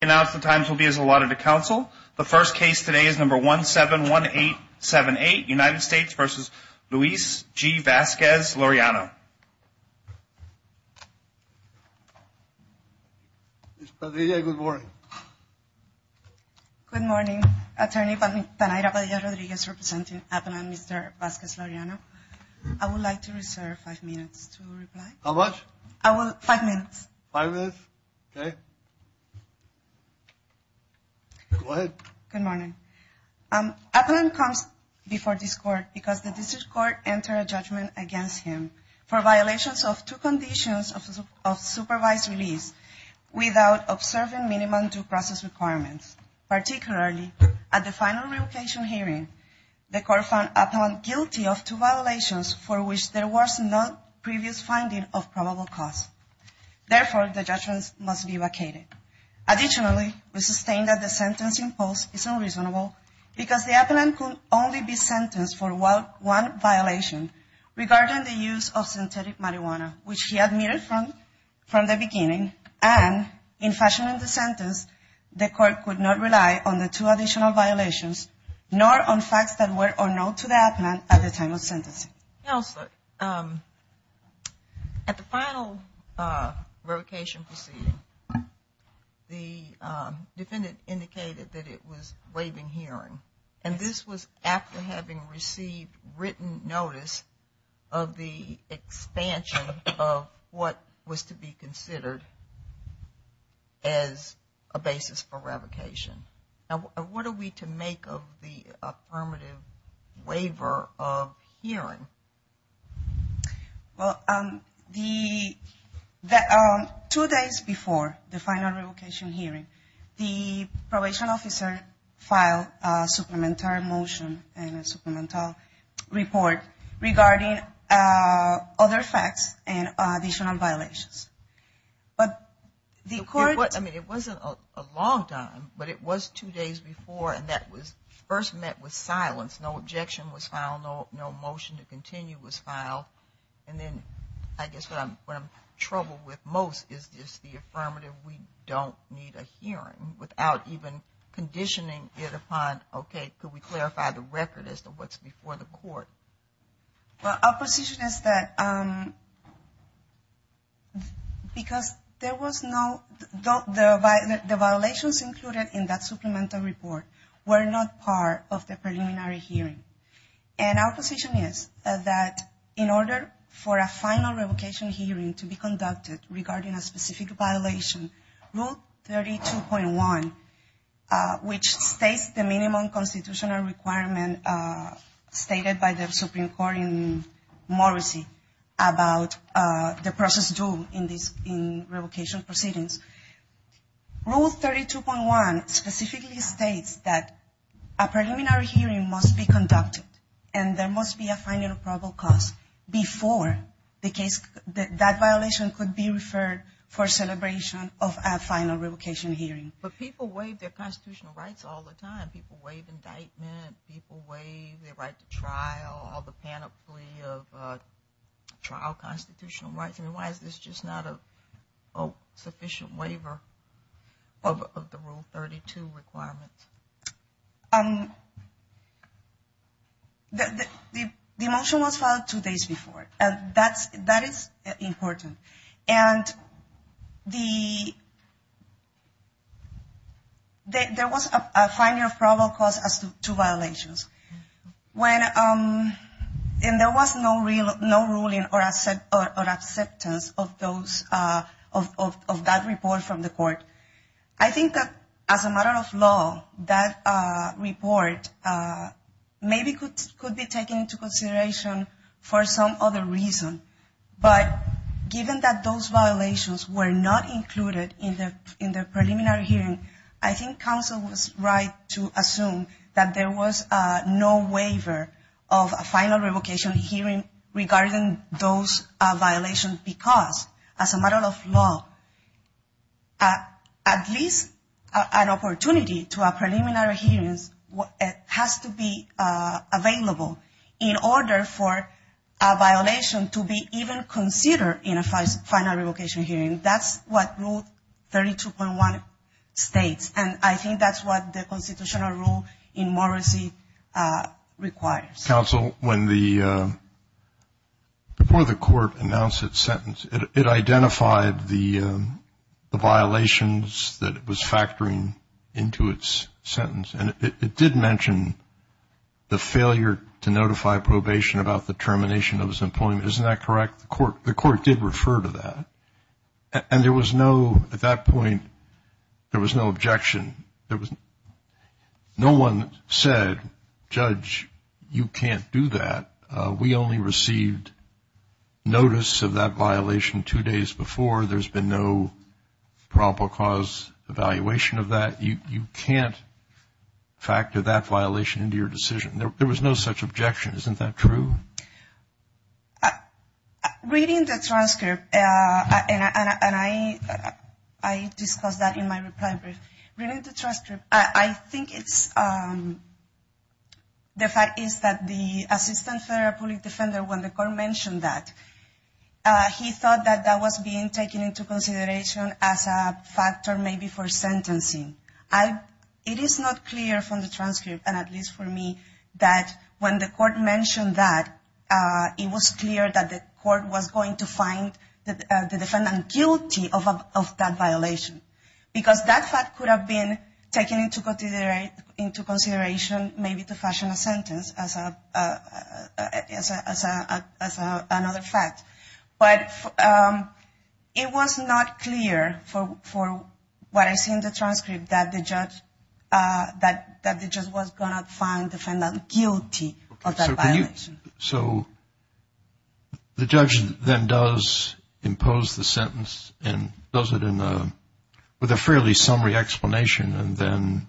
Announce the times will be as allotted to counsel. The first case today is number 171878, United States v. Luis G. Vazquez-Laureano. Ms. Padilla, good morning. Good morning, Attorney Tanayra Padilla-Rodriguez, representing Avalon, Mr. Vazquez-Laureano. I would like to reserve five minutes to reply. How much? Five minutes. Five minutes? Okay. Go ahead. Good morning. Avalon comes before this court because the district court entered a judgment against him for violations of two conditions of supervised release without observing minimum due process requirements. Particularly at the final revocation hearing, the court found Avalon guilty of two violations for which there was no previous finding of probable cause. Therefore, the judgments must be vacated. Additionally, we sustain that the sentence imposed is unreasonable because the Avalon could only be sentenced for one violation regarding the use of synthetic marijuana, which he admitted from the beginning and, in fashioning the sentence, the court could not rely on the two additional violations, nor on facts that were unknown to the Avalon at the time of sentencing. Counselor, at the final revocation proceeding, the defendant indicated that it was waiving hearing, and this was after having received written notice of the expansion of what was to be considered as a basis for revocation. Now, what are we to make of the affirmative waiver of hearing? Well, two days before the final revocation hearing, the probation officer filed a supplementary motion and a supplemental report regarding other facts and additional violations. I mean, it wasn't a long time, but it was two days before, and that was first met with silence. No objection was filed. No motion to continue was filed. And then I guess what I'm troubled with most is just the affirmative. We don't need a hearing without even conditioning it upon, okay, could we clarify the record as to what's before the court. Well, our position is that because there was no, the violations included in that supplemental report were not part of the preliminary hearing. And our position is that in order for a final revocation hearing to be conducted regarding a specific violation, Rule 32.1, which states the minimum constitutional requirement stated by the Supreme Court in Morrissey about the process due in revocation proceedings. Rule 32.1 specifically states that a preliminary hearing must be conducted and there must be a final probable cause before that violation could be referred for celebration of a final revocation hearing. But people waive their constitutional rights all the time. People waive indictment. People waive their right to trial, all the panoply of trial constitutional rights. I mean, why is this just not a sufficient waiver of the Rule 32 requirement? The motion was filed two days before, and that is important. And the, there was a final probable cause as to violations. When, and there was no ruling or acceptance of those, of that report from the court. I think that as a matter of law, that report maybe could be taken into consideration for some other reason. But given that those violations were not included in the preliminary hearing, I think counsel was right to assume that there was no waiver of a final revocation hearing regarding those violations. Because as a matter of law, at least an opportunity to a preliminary hearing has to be available in order for a violation to be even considered in a final revocation hearing. That's what Rule 32.1 states. And I think that's what the constitutional rule in Morrissey requires. Counsel, when the, before the court announced its sentence, it identified the violations that it was factoring into its sentence. And it did mention the failure to notify probation about the termination of his employment. Isn't that correct? The court did refer to that. And there was no, at that point, there was no objection. No one said, Judge, you can't do that. We only received notice of that violation two days before. There's been no probable cause evaluation of that. You can't factor that violation into your decision. There was no such objection. Isn't that true? Reading the transcript, and I discussed that in my reply brief, reading the transcript, I think it's, the fact is that the assistant federal public defender, when the court mentioned that, he thought that that was being taken into consideration as a factor maybe for sentencing. It is not clear from the transcript, and at least for me, that when the court mentioned that, it was clear that the court was going to find the defendant guilty of that violation. Because that fact could have been taken into consideration maybe to fashion a sentence as another fact. But it was not clear, for what I see in the transcript, that the judge was going to find the defendant guilty of that violation. So the judge then does impose the sentence and does it with a fairly summary explanation, and then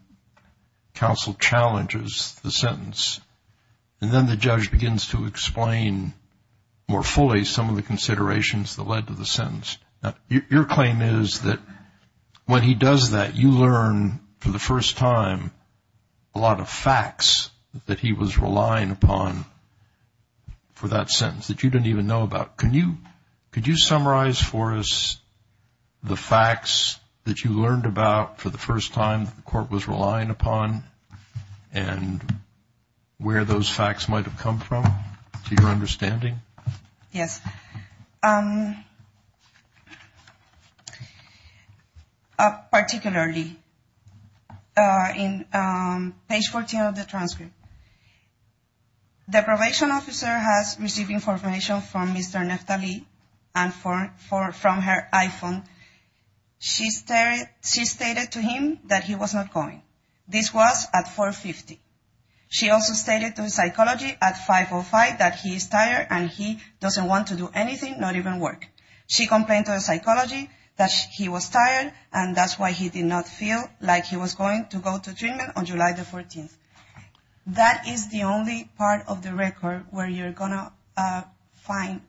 counsel challenges the sentence. And then the judge begins to explain more fully some of the considerations that led to the sentence. Now, your claim is that when he does that, you learn, for the first time, a lot of facts that he was relying upon for that sentence that you didn't even know about. Could you summarize for us the facts that you learned about for the first time the court was relying upon? And where those facts might have come from, to your understanding? Yes. Particularly in page 14 of the transcript, the probation officer has received information from Mr. Neftali and from her iPhone. She stated to him that he was not going. This was at 4.50. She also stated to the psychologist at 5.05 that he is tired and he doesn't want to do anything, not even work. She complained to the psychologist that he was tired, and that's why he did not feel like he was going to go to treatment on July the 14th. That is the only part of the record where you're going to find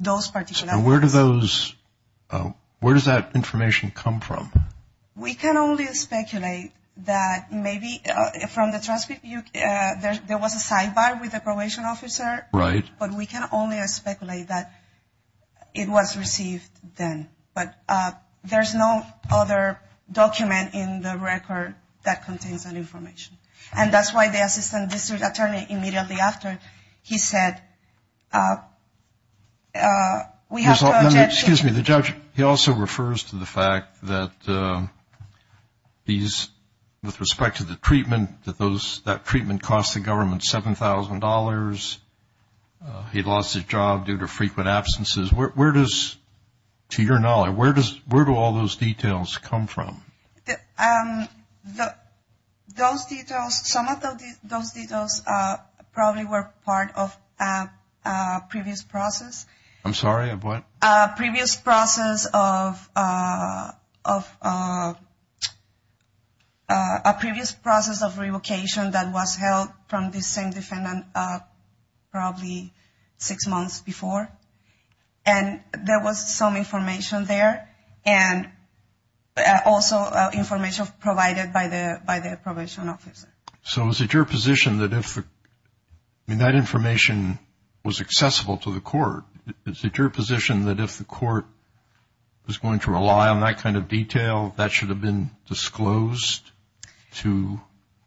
those particular facts. So where does that information come from? We can only speculate that maybe from the transcript there was a sidebar with the probation officer. Right. But we can only speculate that it was received then. But there's no other document in the record that contains that information. And that's why the assistant district attorney immediately after, he said, excuse me, the judge, he also refers to the fact that these, with respect to the treatment, that treatment cost the government $7,000. He lost his job due to frequent absences. Where does, to your knowledge, where do all those details come from? Those details, some of those details probably were part of a previous process. I'm sorry, of what? A previous process of revocation that was held from the same defendant probably six months before. And there was some information there and also information provided by the probation officer. So is it your position that if that information was accessible to the court, is it your position that if the court was going to rely on that kind of detail, that should have been disclosed to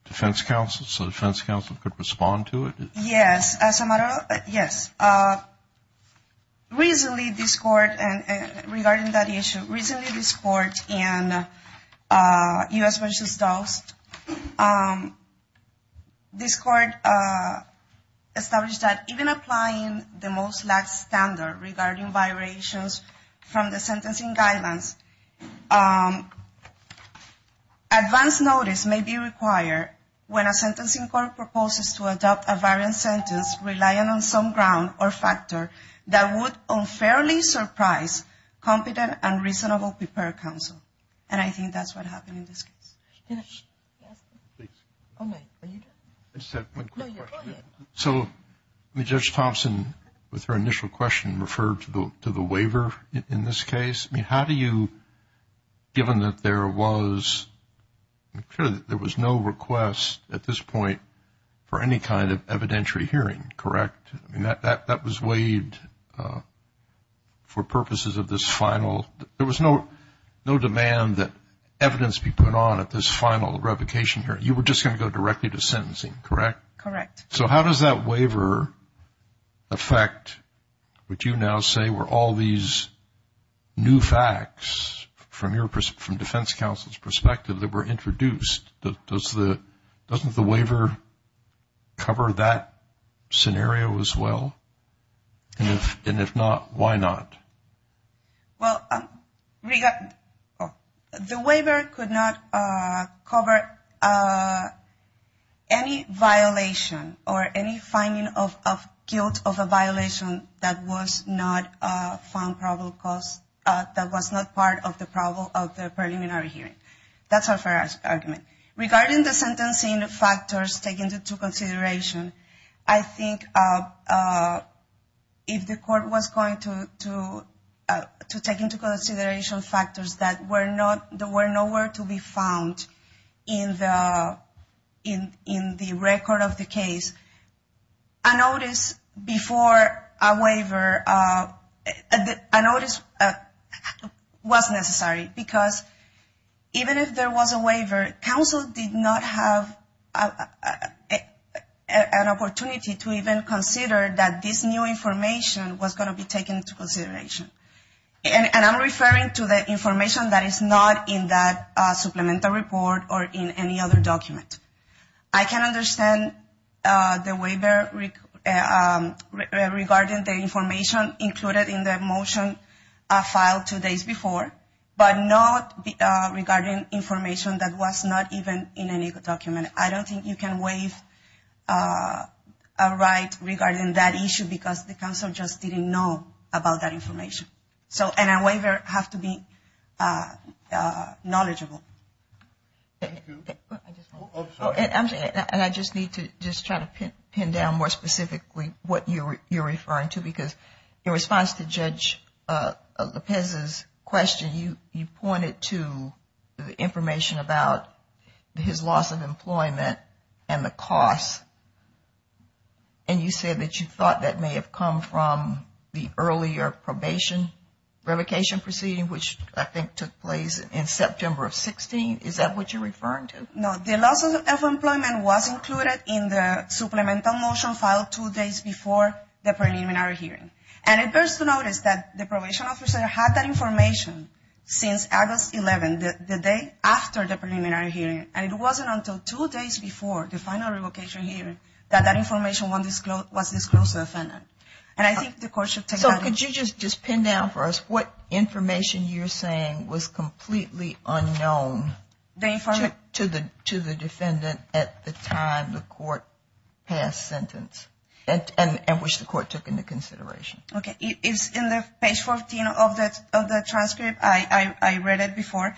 defense counsel so defense counsel could respond to it? Yes. As a matter of, yes. Recently this court, and regarding that issue, recently this court in U.S. versus DOS, this court established that even applying the most lax standard regarding violations from the sentencing guidelines, advance notice may be required when a sentencing court proposes to adopt a variant sentence relying on some ground or factor that would unfairly surprise competent and reasonable prepared counsel. And I think that's what happened in this case. So Judge Thompson, with her initial question, referred to the waiver in this case. I mean, how do you, given that there was no request at this point for any kind of evidentiary hearing, correct? I mean, that was waived for purposes of this final. There was no demand that evidence be put on at this final revocation hearing. You were just going to go directly to sentencing, correct? Correct. So how does that waiver affect what you now say were all these new facts from defense counsel's perspective that were introduced? Doesn't the waiver cover that scenario as well? And if not, why not? Well, the waiver could not cover any violation or any finding of guilt of a violation that was not found probable cause, that was not part of the problem of the preliminary hearing. That's a fair argument. Regarding the sentencing factors taken into consideration, I think if the court was going to take into consideration factors that were nowhere to be found in the record of the case, a notice before a waiver, a notice was necessary. Because even if there was a waiver, counsel did not have an opportunity to even consider that this new information was going to be taken into consideration. And I'm referring to the information that is not in that supplemental report or in any other document. I can understand the waiver regarding the information included in the motion filed two days before, but not regarding information that was not even in any document. I don't think you can waive a right regarding that issue because the counsel just didn't know about that information. And a waiver has to be knowledgeable. And I just need to just try to pin down more specifically what you're referring to, because in response to Judge Lopez's question, you pointed to the information about his loss of employment and the costs. And you said that you thought that may have come from the earlier probation revocation proceeding, which I think took place in September of 16. Is that what you're referring to? No. The loss of employment was included in the supplemental motion filed two days before the preliminary hearing. And it bears to notice that the probation officer had that information since August 11, the day after the preliminary hearing. And it wasn't until two days before the final revocation hearing that that information was disclosed to the defendant. So could you just pin down for us what information you're saying was completely unknown to the defendant at the time the court passed sentence and which the court took into consideration? Okay. It's in the page 14 of the transcript. I read it before.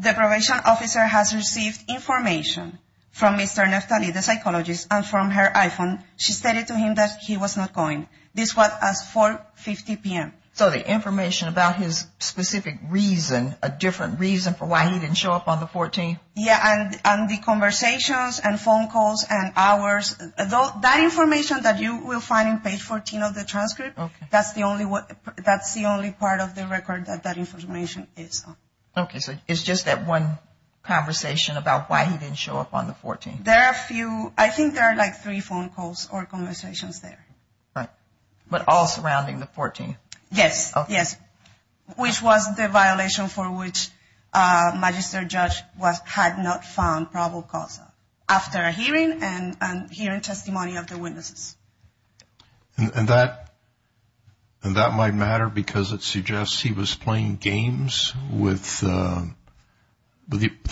The probation officer has received information from Mr. Neftali, the psychologist, and from her iPhone. She stated to him that he was not going. This was at 4.50 p.m. So the information about his specific reason, a different reason for why he didn't show up on the 14th? Yeah, and the conversations and phone calls and hours. That information that you will find in page 14 of the transcript, that's the only part of the record that that information is on. Okay. So it's just that one conversation about why he didn't show up on the 14th? There are a few. I think there are like three phone calls or conversations there. Right. But all surrounding the 14th? Yes. Yes. Okay. Which was the violation for which Magister Judge had not found probable cause after a hearing and hearing testimony of the witnesses. And that might matter because it suggests he was playing games with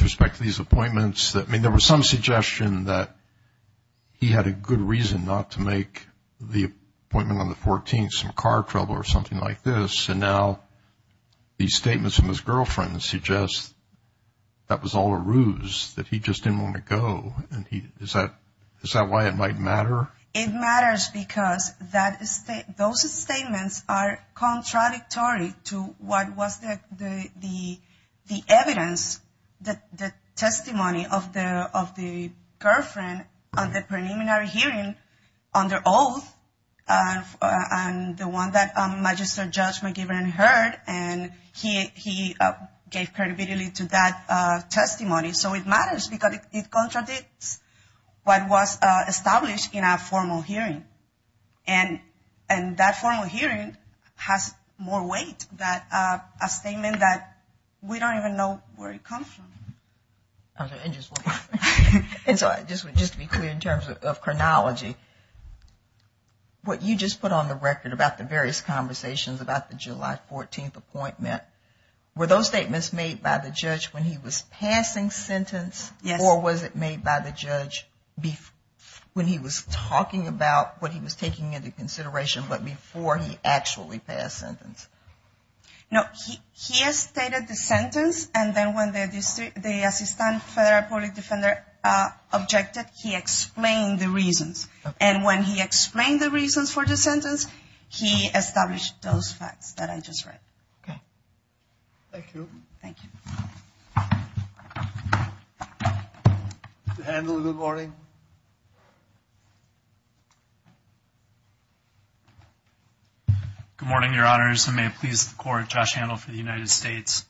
respect to these appointments. I mean, there was some suggestion that he had a good reason not to make the appointment on the 14th, some car trouble or something like this. And now these statements from his girlfriend suggest that was all a ruse, that he just didn't want to go. Is that why it might matter? It matters because those statements are contradictory to what was the evidence, the testimony of the girlfriend on the preliminary hearing under oath and the one that Magister Judge McGiven heard. And he gave credibility to that testimony. So it matters because it contradicts what was established in our formal hearing. And that formal hearing has more weight than a statement that we don't even know where it comes from. And just to be clear in terms of chronology, what you just put on the record about the various conversations about the July 14th appointment, were those statements made by the judge when he was passing sentence? Yes. Or was it made by the judge when he was talking about what he was taking into consideration, but before he actually passed sentence? No, he has stated the sentence. And then when the assistant federal public defender objected, he explained the reasons. And when he explained the reasons for the sentence, he established those facts that I just read. Okay. Thank you. Thank you. Mr. Handel, good morning. Good morning, Your Honors. And may it please the Court, Josh Handel for the United States.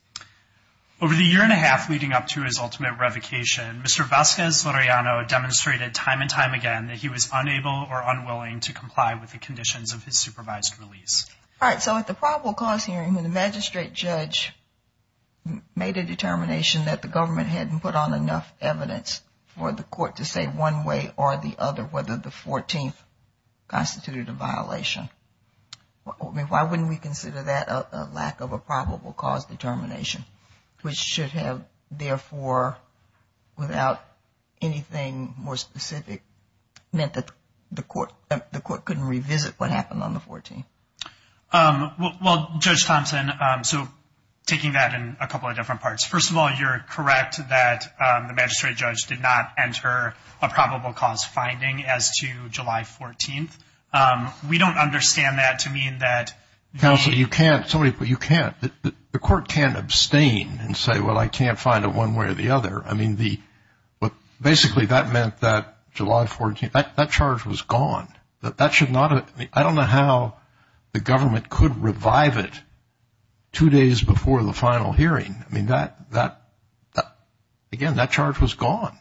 Over the year and a half leading up to his ultimate revocation, Mr. Vasquez-Loreano demonstrated time and time again that he was unable or unwilling to comply with the conditions of his supervised release. All right. So at the probable cause hearing, when the magistrate judge made a determination that the government hadn't put on enough evidence for the court to say one way or the other whether the 14th constituted a violation, why wouldn't we consider that a lack of a probable cause determination, which should have, therefore, without anything more specific, meant that the court couldn't revisit what happened on the 14th? Well, Judge Thompson, so taking that in a couple of different parts. First of all, you're correct that the magistrate judge did not enter a probable cause finding as to July 14th. We don't understand that to mean that the – Counsel, you can't. The court can't abstain and say, well, I can't find it one way or the other. I mean, basically that meant that July 14th, that charge was gone. I don't know how the government could revive it two days before the final hearing. I mean, again, that charge was gone.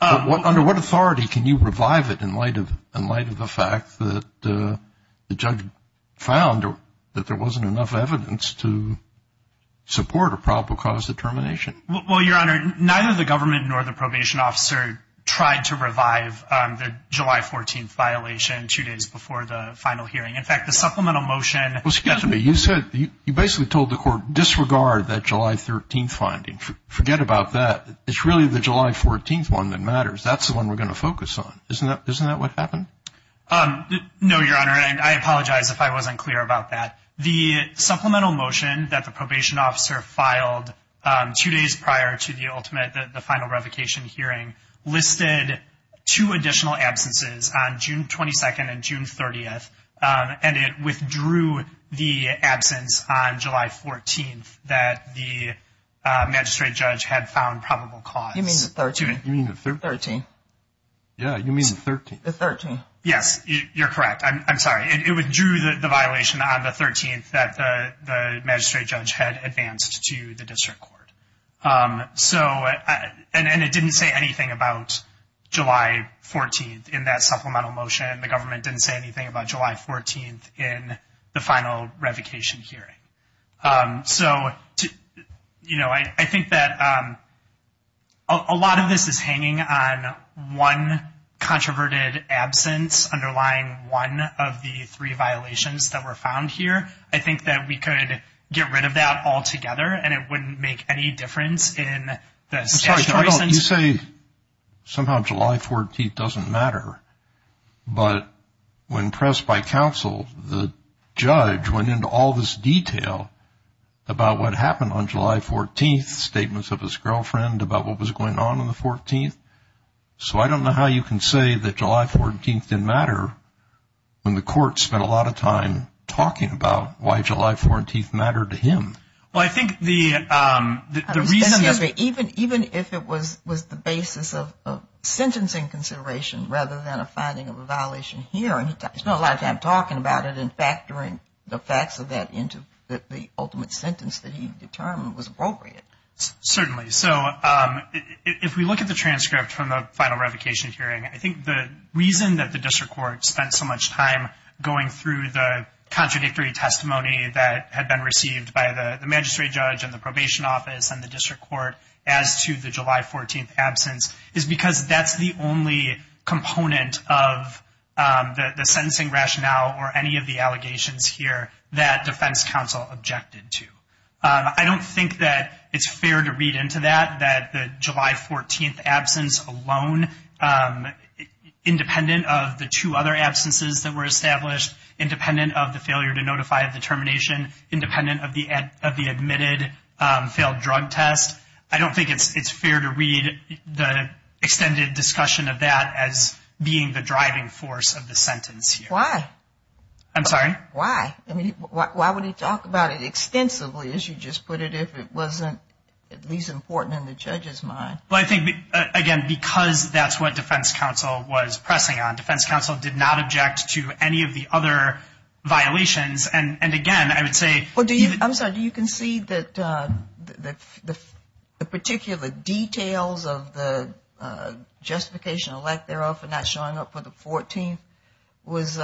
Under what authority can you revive it in light of the fact that the judge found that there wasn't enough evidence to support a probable cause determination? Well, Your Honor, neither the government nor the probation officer tried to revive the July 14th violation two days before the final hearing. In fact, the supplemental motion – Well, excuse me. You basically told the court disregard that July 13th finding. Forget about that. It's really the July 14th one that matters. That's the one we're going to focus on. Isn't that what happened? No, Your Honor, and I apologize if I wasn't clear about that. The supplemental motion that the probation officer filed two days prior to the ultimate, the final revocation hearing, listed two additional absences on June 22nd and June 30th, and it withdrew the absence on July 14th that the magistrate judge had found probable cause. You mean the 13th? You mean the 13th? 13th. Yeah, you mean the 13th. The 13th. Yes, you're correct. I'm sorry. It withdrew the violation on the 13th that the magistrate judge had advanced to the district court. And it didn't say anything about July 14th in that supplemental motion. The government didn't say anything about July 14th in the final revocation hearing. So, you know, I think that a lot of this is hanging on one controverted absence underlying one of the three violations that were found here. I think that we could get rid of that altogether, and it wouldn't make any difference in the statutory sense. I'm sorry. You say somehow July 14th doesn't matter, but when pressed by counsel, the judge went into all this detail about what happened on July 14th, statements of his girlfriend about what was going on on the 14th. So I don't know how you can say that July 14th didn't matter when the court spent a lot of time talking about why July 14th mattered to him. Well, I think the reason is that even if it was the basis of sentencing consideration rather than a finding of a violation hearing, he spent a lot of time talking about it and factoring the facts of that into the ultimate sentence that he determined was appropriate. Certainly. So if we look at the transcript from the final revocation hearing, I think the reason that the district court spent so much time going through the contradictory testimony that had been received by the magistrate judge and the probation office and the district court as to the July 14th absence is because that's the only component of the sentencing rationale or any of the allegations here that defense counsel objected to. I don't think that it's fair to read into that, that the July 14th absence alone, independent of the two other absences that were established, independent of the failure to notify of the termination, independent of the admitted failed drug test, I don't think it's fair to read the extended discussion of that as being the driving force of the sentence here. Why? I'm sorry? Why? I mean, why would he talk about it extensively, as you just put it, if it wasn't at least important in the judge's mind? Well, I think, again, because that's what defense counsel was pressing on. Defense counsel did not object to any of the other violations. And, again, I would say. I'm sorry. Do you concede that the particular details of the justification of lack thereof and not showing up for the 14th was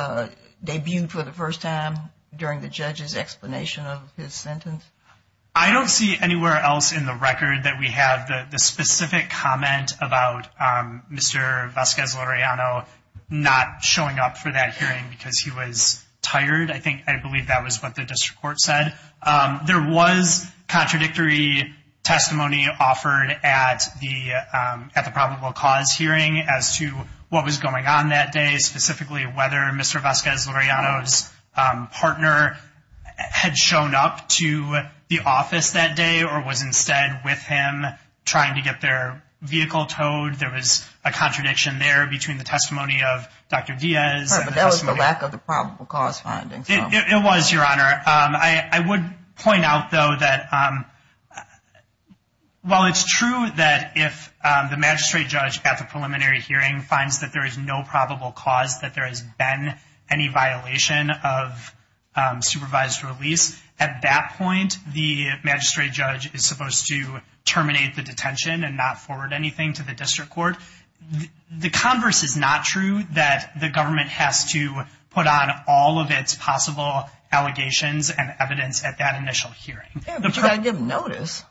debuted for the first time during the judge's explanation of his sentence? I don't see anywhere else in the record that we have the specific comment about Mr. Vasquez-Loreano not showing up for that hearing because he was tired. I think I believe that was what the district court said. There was contradictory testimony offered at the probable cause hearing as to what was going on that day, specifically whether Mr. Vasquez-Loreano's partner had shown up to the office that day or was instead with him trying to get their vehicle towed. There was a contradiction there between the testimony of Dr. Diaz. But that was the lack of the probable cause finding. It was, Your Honor. I would point out, though, that while it's true that if the magistrate judge at the preliminary hearing finds that there is no probable cause that there has been any violation of supervised release, at that point the magistrate judge is supposed to terminate the detention and not forward anything to the district court. The converse is not true that the government has to put on all of its possible allegations and evidence at that initial hearing. But you've got to give them notice.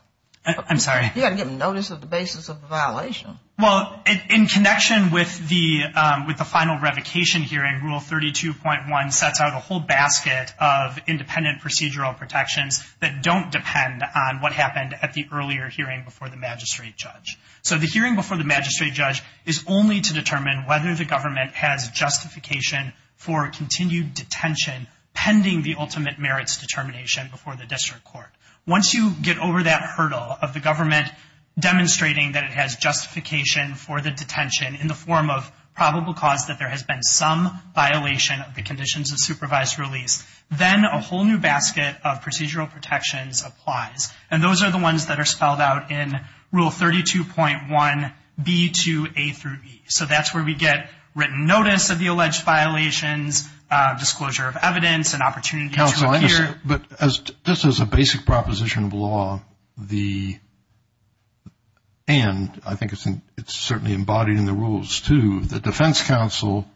I'm sorry? You've got to give them notice of the basis of the violation. Well, in connection with the final revocation hearing, Rule 32.1 sets out a whole basket of independent procedural protections that don't depend on what happened at the earlier hearing before the magistrate judge. So the hearing before the magistrate judge is only to determine whether the government has justification for continued detention pending the ultimate merits determination before the district court. Once you get over that hurdle of the government demonstrating that it has justification for the detention in the form of probable cause that there has been some violation of the conditions of supervised release, then a whole new basket of procedural protections applies. And those are the ones that are spelled out in Rule 32.1b to a through e. So that's where we get written notice of the alleged violations, disclosure of evidence and opportunity to appear. But just as a basic proposition of law, and I think it's certainly embodied in the rules too, the defense counsel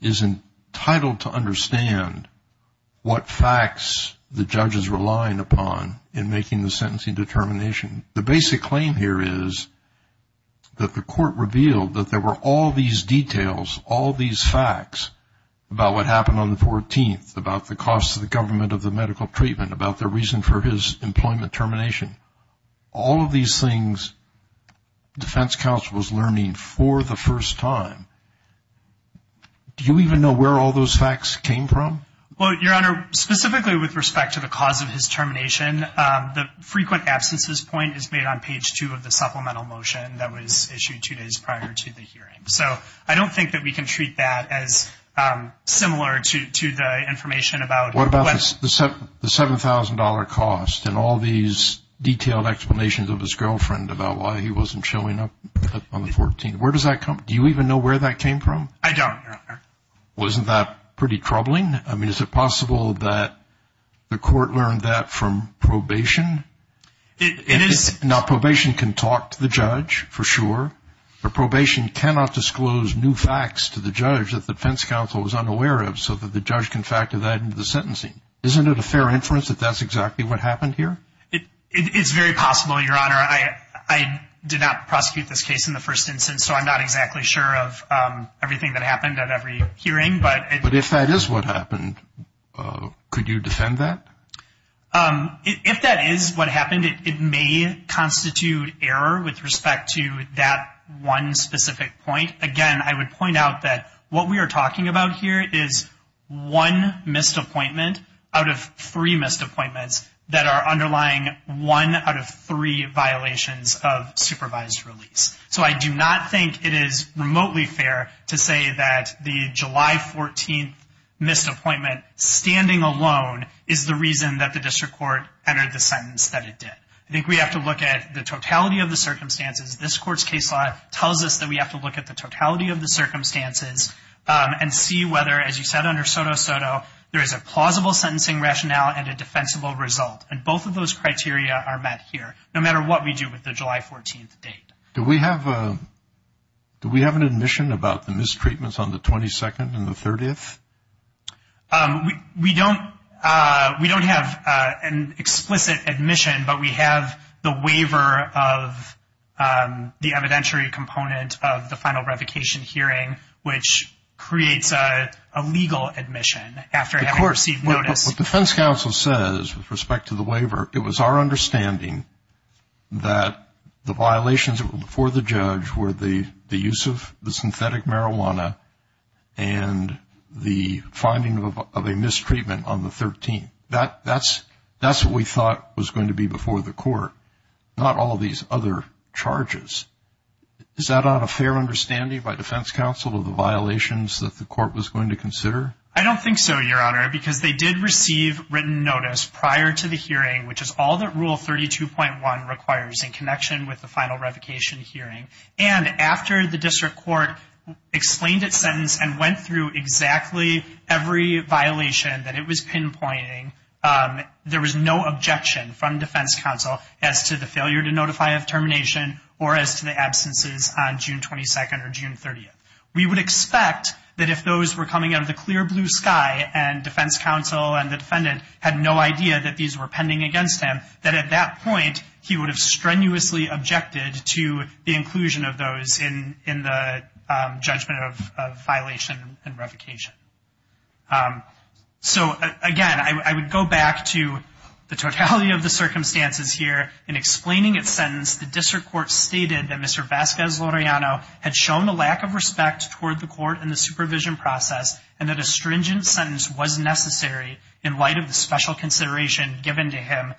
is entitled to understand what facts the judge is relying upon in making the sentencing determination. The basic claim here is that the court revealed that there were all these details, all these facts about what happened on the 14th, about the cost to the government of the medical treatment, about the reason for his employment termination. All of these things defense counsel was learning for the first time. Do you even know where all those facts came from? Well, Your Honor, specifically with respect to the cause of his termination, the frequent absences point is made on page 2 of the supplemental motion that was issued two days prior to the hearing. So I don't think that we can treat that as similar to the information about what the $7,000 cost and all these detailed explanations of his girlfriend about why he wasn't showing up on the 14th. Where does that come from? Do you even know where that came from? I don't, Your Honor. Well, isn't that pretty troubling? I mean, is it possible that the court learned that from probation? It is. Now, probation can talk to the judge for sure, but probation cannot disclose new facts to the judge that the defense counsel was unaware of so that the judge can factor that into the sentencing. Isn't it a fair inference that that's exactly what happened here? It's very possible, Your Honor. I did not prosecute this case in the first instance, so I'm not exactly sure of everything that happened at every hearing. But if that is what happened, could you defend that? If that is what happened, it may constitute error with respect to that one specific point. Again, I would point out that what we are talking about here is one missed appointment out of three missed appointments that are underlying one out of three violations of supervised release. So I do not think it is remotely fair to say that the July 14th missed appointment, standing alone, is the reason that the district court entered the sentence that it did. I think we have to look at the totality of the circumstances. This Court's case law tells us that we have to look at the totality of the circumstances and see whether, as you said under SOTO-SOTO, there is a plausible sentencing rationale and a defensible result. And both of those criteria are met here, no matter what we do with the July 14th date. Do we have an admission about the mistreatments on the 22nd and the 30th? We don't have an explicit admission, but we have the waiver of the evidentiary component of the final revocation hearing, which creates a legal admission after having received notice. What defense counsel says with respect to the waiver, it was our understanding that the violations that were before the judge were the use of the synthetic marijuana and the finding of a mistreatment on the 13th. That's what we thought was going to be before the court, not all these other charges. Is that not a fair understanding by defense counsel of the violations that the court was going to consider? I don't think so, Your Honor, because they did receive written notice prior to the hearing, which is all that Rule 32.1 requires in connection with the final revocation hearing. And after the district court explained its sentence and went through exactly every violation that it was pinpointing, there was no objection from defense counsel as to the failure to notify of termination or as to the absences on June 22nd or June 30th. We would expect that if those were coming out of the clear blue sky and defense counsel and the defendant had no idea that these were pending against him, that at that point he would have strenuously objected to the inclusion of those in the judgment of violation and revocation. So, again, I would go back to the totality of the circumstances here. In explaining its sentence, the district court stated that Mr. Vasquez-Loreano had shown a lack of respect toward the court and the supervision process and that a stringent sentence was necessary in light of the special consideration given to him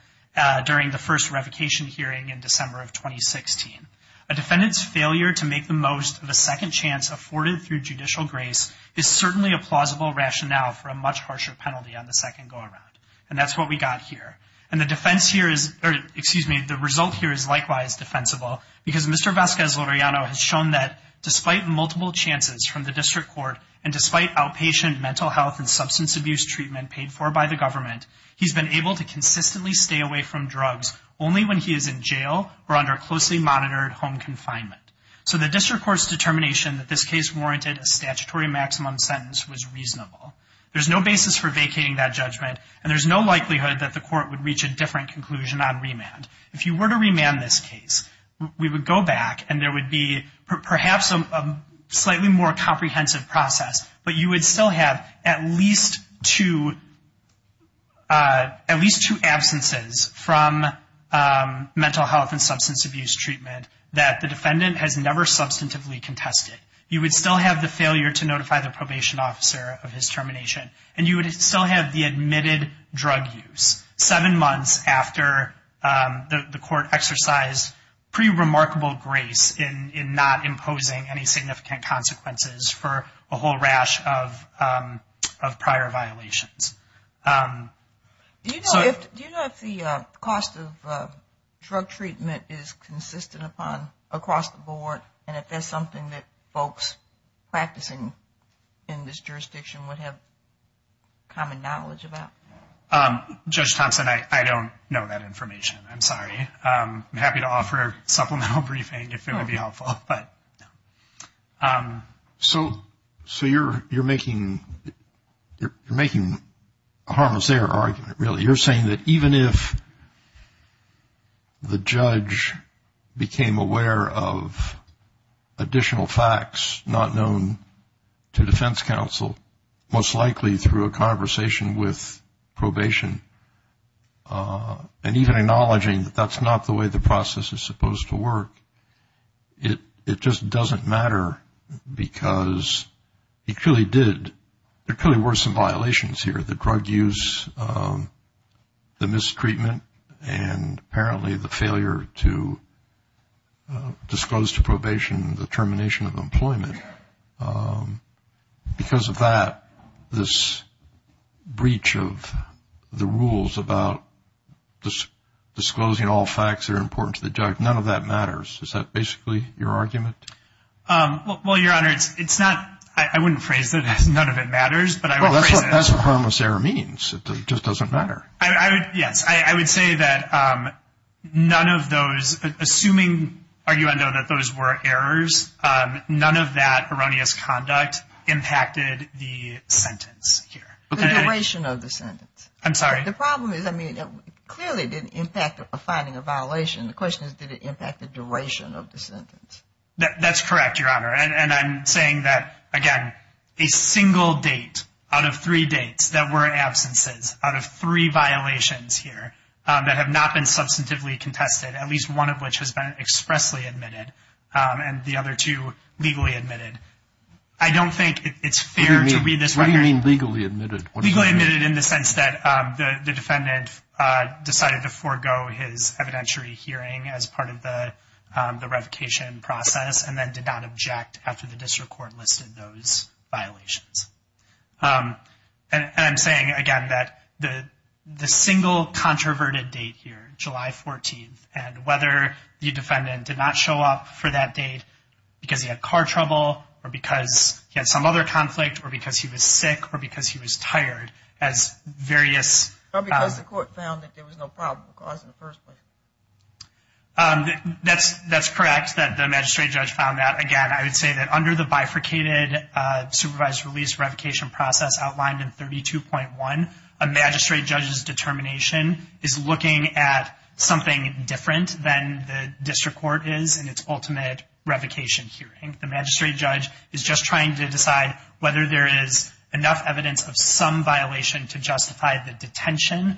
during the first revocation hearing in December of 2016. A defendant's failure to make the most of a second chance afforded through judicial grace is certainly a plausible rationale for a much harsher penalty on the second go-around. And that's what we got here. And the result here is likewise defensible because Mr. Vasquez-Loreano has shown that despite multiple chances from the district court and despite outpatient mental health and substance abuse treatment paid for by the government, he's been able to consistently stay away from drugs only when he is in jail or under closely monitored home confinement. So the district court's determination that this case warranted a statutory maximum sentence was reasonable. There's no basis for vacating that judgment and there's no likelihood that the court would reach a different conclusion on remand. If you were to remand this case, we would go back and there would be perhaps a slightly more comprehensive process, but you would still have at least two absences from mental health and substance abuse treatment that the defendant has never substantively contested. You would still have the failure to notify the probation officer of his termination and you would still have the admitted drug use seven months after the court exercised pretty remarkable grace in not imposing any significant consequences for a whole rash of prior violations. Do you know if the cost of drug treatment is consistent across the board and if that's something that folks practicing in this jurisdiction would have common knowledge about? Judge Thompson, I don't know that information. I'm sorry. I'm happy to offer supplemental briefing if it would be helpful. So you're making a harmless error argument, really. You're saying that even if the judge became aware of additional facts not known to defense counsel, most likely through a conversation with probation and even acknowledging that that's not the way the process is supposed to work, it just doesn't matter because it truly did. There clearly were some violations here, the drug use, the mistreatment, and apparently the failure to disclose to probation the termination of employment. Because of that, this breach of the rules about disclosing all facts that are important to the judge, none of that matters. Is that basically your argument? Well, Your Honor, it's not. I wouldn't phrase it as none of it matters. That's what harmless error means. It just doesn't matter. Yes. I would say that none of those, assuming, arguendo, that those were errors, none of that erroneous conduct impacted the sentence here. The duration of the sentence. I'm sorry. The problem is, I mean, clearly it didn't impact the finding of violation. The question is, did it impact the duration of the sentence? That's correct, Your Honor. And I'm saying that, again, a single date out of three dates that were absences, out of three violations here that have not been substantively contested, at least one of which has been expressly admitted and the other two legally admitted, I don't think it's fair to read this record. What do you mean legally admitted? Legally admitted in the sense that the defendant decided to forego his evidentiary hearing as part of the revocation process and then did not object after the district court listed those violations. And I'm saying, again, that the single controverted date here, July 14th, and whether the defendant did not show up for that date because he had car trouble or because he had some other conflict or because he was sick or because he was tired as various- Or because the court found that there was no probable cause in the first place. That's correct, that the magistrate judge found that. Again, I would say that under the bifurcated supervised release revocation process outlined in 32.1, a magistrate judge's determination is looking at something different than the district court is in its ultimate revocation hearing. The magistrate judge is just trying to decide whether there is enough evidence of some violation to justify the detention.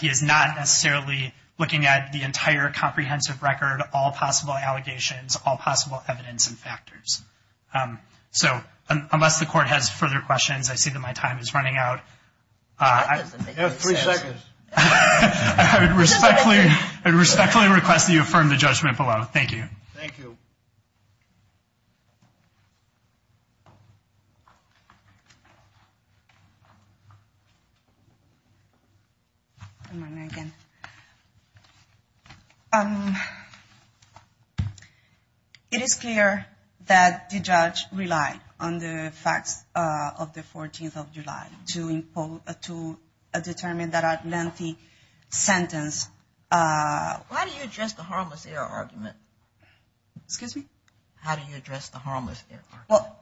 He is not necessarily looking at the entire comprehensive record, all possible allegations, all possible evidence and factors. So unless the court has further questions, I see that my time is running out. That doesn't make any sense. You have three seconds. I would respectfully request that you affirm the judgment below. Thank you. Thank you. It is clear that the judge relied on the facts of the 14th of July to determine that lengthy sentence. Why do you address the harmless error argument? Excuse me? How do you address the harmless error argument?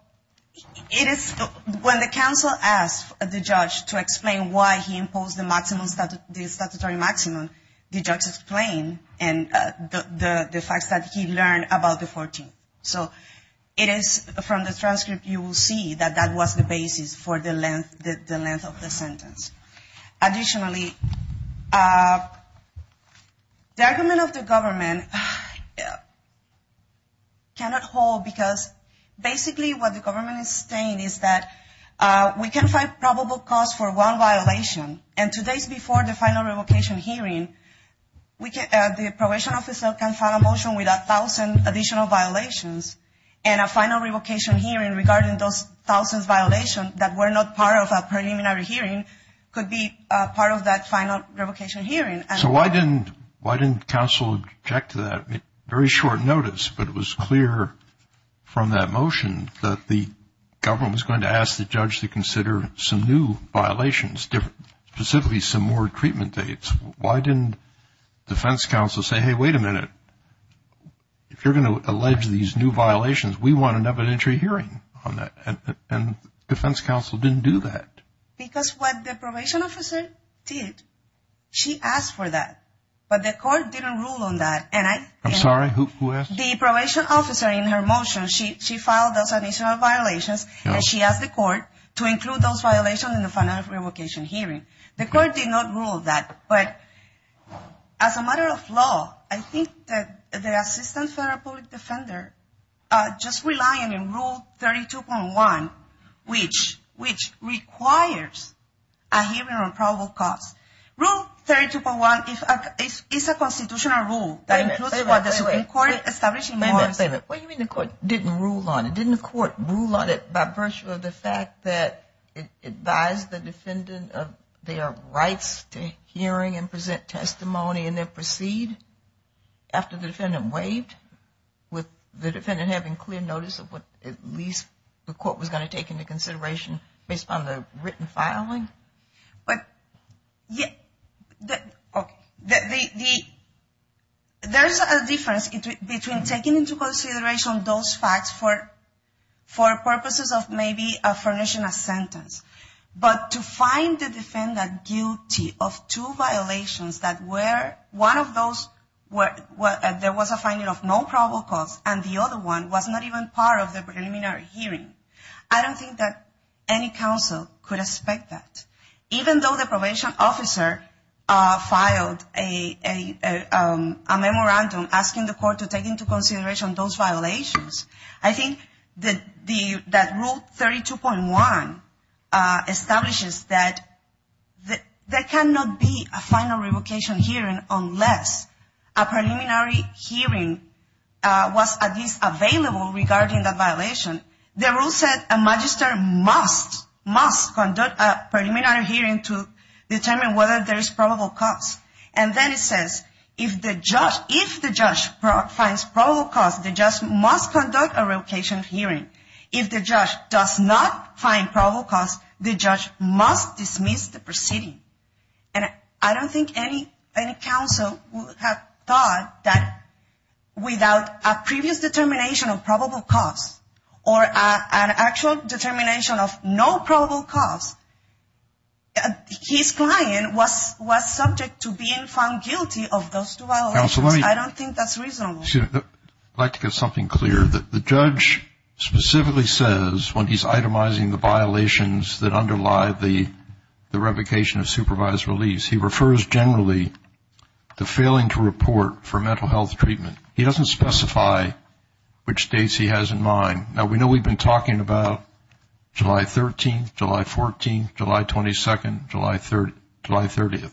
When the counsel asked the judge to explain why he imposed the statutory maximum, the judge explained the facts that he learned about the 14th. So it is from the transcript you will see that that was the basis for the length of the sentence. Additionally, the argument of the government cannot hold because basically what the government is saying is that we can find probable cause for one violation, and two days before the final revocation hearing, the probation officer can file a motion with 1,000 additional violations and a final revocation hearing regarding those 1,000 violations that were not part of a preliminary hearing could be part of that final revocation hearing. So why didn't counsel object to that? Very short notice, but it was clear from that motion that the government was going to ask the judge to consider some new violations, specifically some more treatment dates. Why didn't defense counsel say, hey, wait a minute, if you're going to allege these new violations, we want an evidentiary hearing on that? And defense counsel didn't do that. Because what the probation officer did, she asked for that, but the court didn't rule on that. I'm sorry, who asked? The probation officer in her motion, she filed those additional violations, and she asked the court to include those violations in the final revocation hearing. The court did not rule that, but as a matter of law, I think that the Assistant Federal Public Defender just relying on Rule 32.1, which requires a hearing on probable cause. Rule 32.1 is a constitutional rule. Wait a minute, wait a minute. What do you mean the court didn't rule on it? Didn't the court rule on it by virtue of the fact that it advised the defendant of their rights to hearing and present testimony and then proceed after the defendant waived, with the defendant having clear notice of what at least the court was going to take into consideration based upon the written filing? There's a difference between taking into consideration those facts for purposes of maybe a furnishing a sentence, but to find the defendant guilty of two violations that were, one of those there was a finding of no probable cause, and the other one was not even part of the preliminary hearing. I don't think that any counsel could expect that. Even though the probation officer filed a memorandum asking the court to take into consideration those violations, I think that Rule 32.1 establishes that there cannot be a final revocation hearing unless a preliminary hearing was at least available regarding the violation. The rule said a magistrate must conduct a preliminary hearing to determine whether there is probable cause. And then it says if the judge finds probable cause, the judge must conduct a revocation hearing. If the judge does not find probable cause, the judge must dismiss the proceeding. And I don't think any counsel would have thought that without a previous determination of probable cause or an actual determination of no probable cause, his client was subject to being found guilty of those two violations. I don't think that's reasonable. I'd like to get something clear. The judge specifically says when he's itemizing the violations that underlie the revocation of supervised release, he refers generally to failing to report for mental health treatment. He doesn't specify which dates he has in mind. Now, we know we've been talking about July 13th, July 14th, July 22nd, July 30th.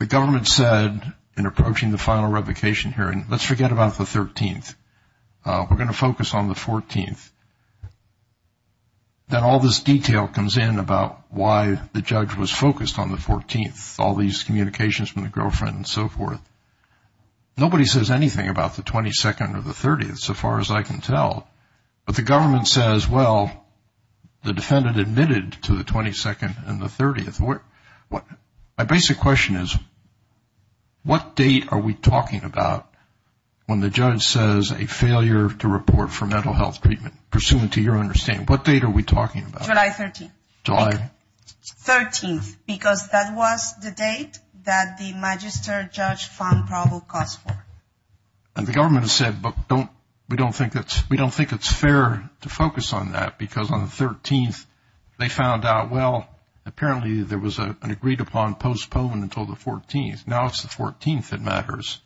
The government said in approaching the final revocation hearing, let's forget about the 13th. We're going to focus on the 14th. Then all this detail comes in about why the judge was focused on the 14th, all these communications from the girlfriend and so forth. Nobody says anything about the 22nd or the 30th, so far as I can tell. But the government says, well, the defendant admitted to the 22nd and the 30th. My basic question is, what date are we talking about when the judge says a failure to report for mental health treatment? Pursuant to your understanding, what date are we talking about? July 13th. July? 13th, because that was the date that the magistrate judge found probable cause for. And the government has said, but we don't think it's fair to focus on that, because on the 13th they found out, well, apparently there was an agreed upon postponement until the 14th. Now it's the 14th that matters.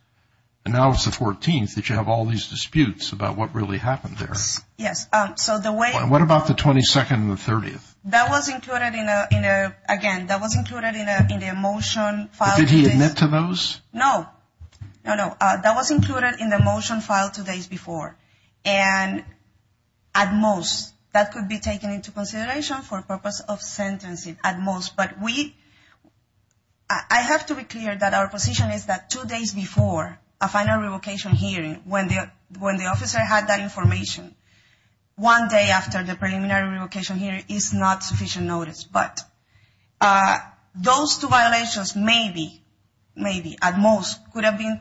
And now it's the 14th that you have all these disputes about what really happened there. Yes, so the way – What about the 22nd and the 30th? That was included in a – again, that was included in the motion file. Did he admit to those? No. No, no. That was included in the motion file two days before. And at most, that could be taken into consideration for purpose of sentencing, at most. But we – I have to be clear that our position is that two days before a final revocation hearing, when the officer had that information, one day after the preliminary revocation hearing is not sufficient notice. But those two violations maybe, maybe at most, could have been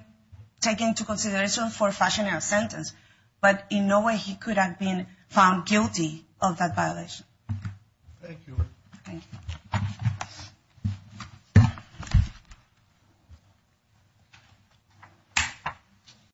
taken into consideration for fashioning a sentence. But in no way he could have been found guilty of that violation. Thank you. Thank you.